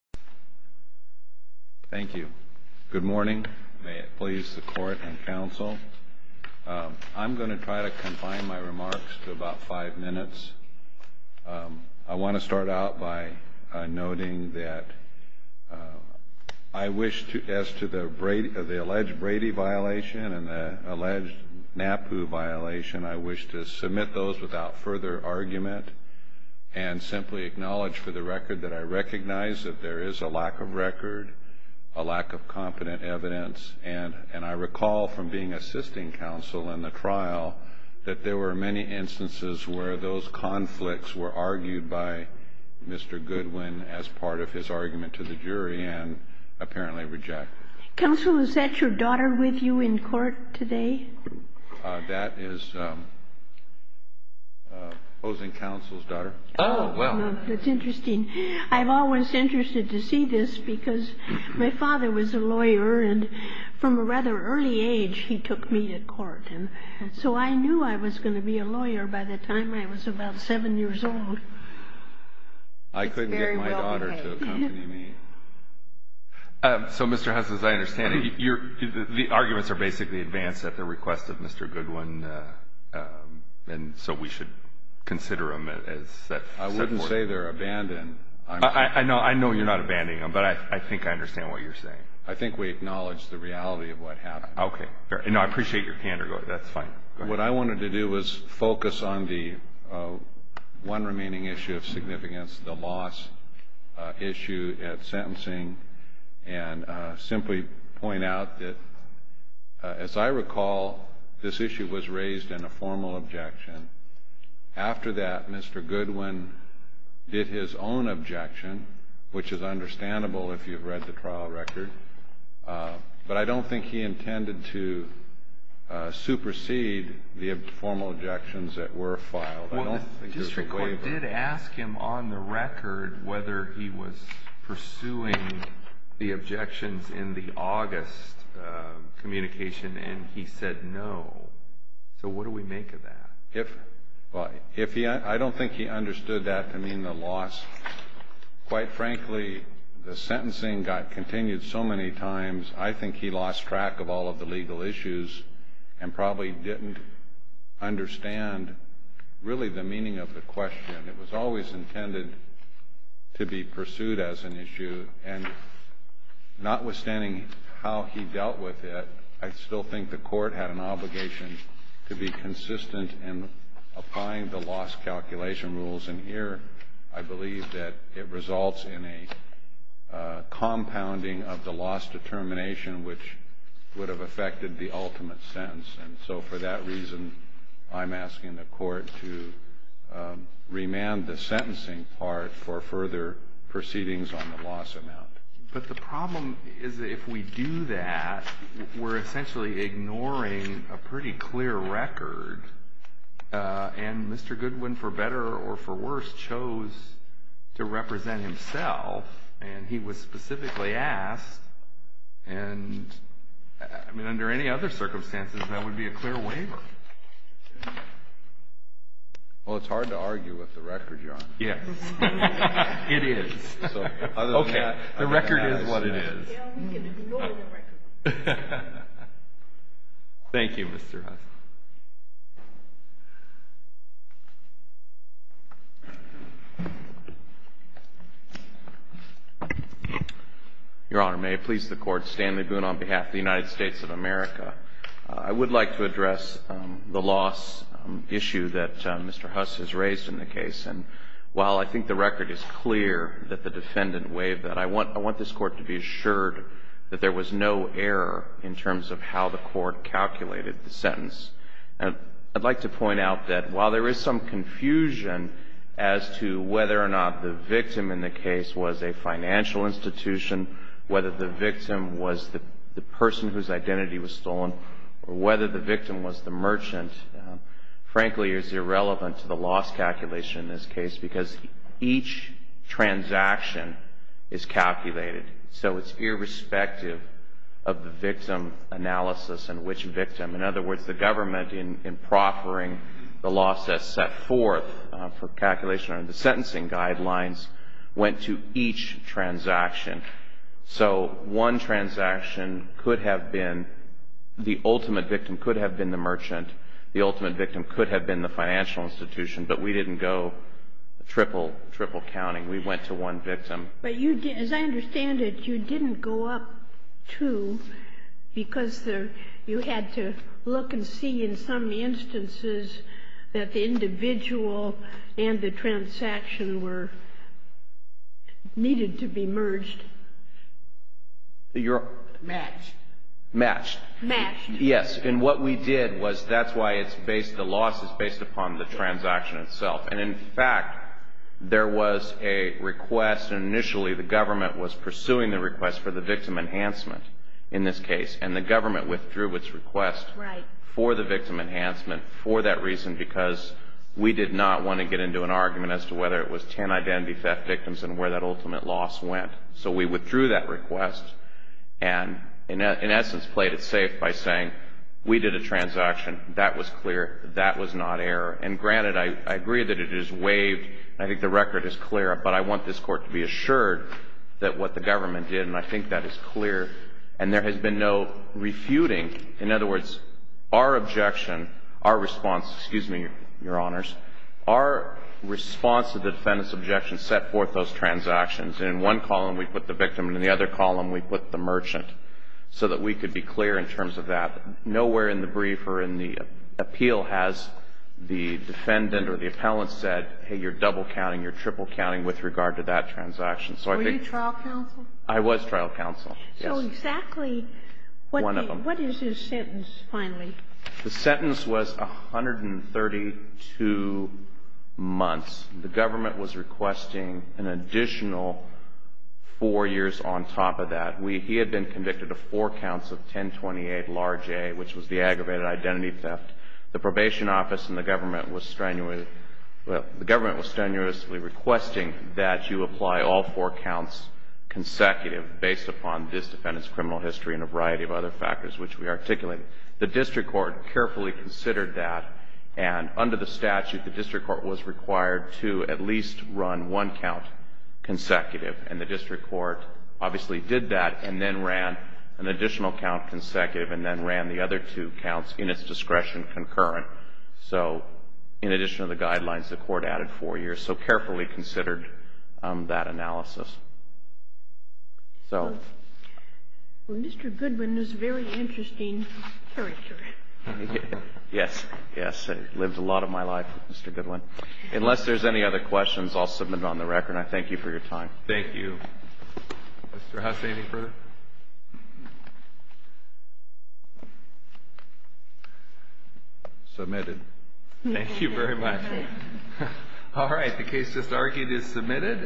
Thank you. Good morning. May it please the court and counsel. I'm going to try to confine my remarks to about five minutes. I want to start out by noting that I wish, as to the alleged Brady violation and the alleged NAPU violation, I wish to submit those without further argument and simply acknowledge for the record that I recognize that there is a lack of record, a lack of competent evidence, and I recall from being assisting counsel in the trial that there were many instances where those conflicts were argued by Mr. Goodwin as part of his argument to the jury and apparently rejected. Counsel, is that your daughter with you in court today? That is opposing counsel's daughter. Oh, well, that's interesting. I've always been interested to see this because my father was a lawyer, and from a rather early age he took me to court, and so I knew I was going to be a lawyer by the time I was about seven years old. I couldn't get my daughter to accompany me. So, Mr. Huss, as I understand it, the arguments are basically advanced at the request of Mr. Goodwin, and so we should consider them as set forth. I wouldn't say they're abandoned. I know you're not abandoning them, but I think I understand what you're saying. I think we acknowledge the reality of what happened. Okay. And I appreciate your candor. That's fine. What I wanted to do was focus on the one remaining issue of significance, the loss issue at San Juan, and simply point out that, as I recall, this issue was raised in a formal objection. After that, Mr. Goodwin did his own objection, which is understandable if you've read the trial record, but I don't think he intended to supersede the formal objections that were filed. Well, the district court did ask him on the record whether he was pursuing the objections in the August communication, and he said no. So what do we make of that? I don't think he understood that to mean the loss. Quite frankly, the sentencing got continued so many times, I think he lost track of all of the legal issues and probably didn't understand really the meaning of the question. It was always intended to be pursued as an issue, and notwithstanding how he dealt with it, I still think the court had an obligation to be consistent in applying the loss calculation rules, and here I believe that it results in a compounding of the loss determination, which would have affected the ultimate sentence, and so for that reason, I'm asking the court to remand the sentencing part for further proceedings on the loss amount. But the problem is if we do that, we're essentially ignoring a pretty clear record, and Mr. Goodwin for better or for worse chose to represent himself, and he was specifically asked, and I mean under any other circumstances, that would be a clear waiver. Well, it's hard to argue with the record, Your Honor. Yes, it is. Okay. The record is what it is. Thank you, Mr. Hudson. Your Honor, may it please the Court, Stanley Boone on behalf of the United States of America. I would like to address the loss issue that Mr. Huss has raised in the case, and while I think the record is clear that the defendant waived that, I want this Court to be assured that there was no error in terms of how the Court calculated the sentence. And I'd like to point out that while there is some confusion as to whether or not the victim in the case was a financial institution, whether the victim was the person whose identity was stolen, or whether the victim was the merchant, frankly, is irrelevant to the loss calculation in this case, because each transaction is calculated. So it's irrespective of the victim analysis and which victim. In other words, the government, in proffering the loss that's set forth for calculation under the sentencing guidelines, went to each transaction. So one transaction could have been, the ultimate victim could have been the merchant, the ultimate victim could have been the financial institution, but we didn't go triple counting. We went to one victim. But as I understand it, you didn't go up two, because you had to look and see in some instances that the individual and the transaction were, needed to be merged. Matched. Matched. Yes. And what we did was, that's why it's based, the loss is based upon the transaction itself. And in fact, there was a request, and initially the government was pursuing the request for the victim enhancement in this case, and the government withdrew its request for the victim enhancement for that reason, because we did not want to get into an argument as to whether it was 10 identity theft victims and where that ultimate loss went. So we withdrew that request, and in essence played it safe by saying, we did a transaction. That was clear. That was not error. And granted, I agree that it is waived, and I think the record is clear, but I want this Court to be assured that what the government did, and I think that is clear, and there has been no refuting. In other words, our objection, our response, excuse me, Your Honors, our response to the defendant's objection set forth those transactions. In one column, we put the victim, and in the other column, we put the merchant, so that we could be clear in terms of that. Nowhere in the brief or in the appeal has the defendant or the appellant said, hey, you're double counting, you're triple counting with regard to that transaction. So I think you're trial counsel? I was trial counsel, yes. So exactly what is his sentence finally? The sentence was 132 months. The government was requesting an additional four years on top of that. He had been convicted of four counts of 1028, large A, which was the aggravated identity theft. The probation office and the government was strenuously requesting that you apply all four counts consecutive based upon this defendant's criminal history and a variety of other factors which we articulated. The district court carefully considered that, and under the statute, the district court was required to at least run one count consecutive, and the district court obviously did that and then ran an additional count consecutive and then ran the other two counts in its discretion concurrent. So in addition to the guidelines, the court added four years. So carefully considered that analysis. So. Well, Mr. Goodwin is a very interesting character. Yes. Yes. I lived a lot of my life with Mr. Goodwin. Unless there's any other questions, I'll submit it on the record. I thank you for your time. Thank you. Mr. Haase, any further questions? No. Submitted. Thank you very much. All right. The case just argued is submitted.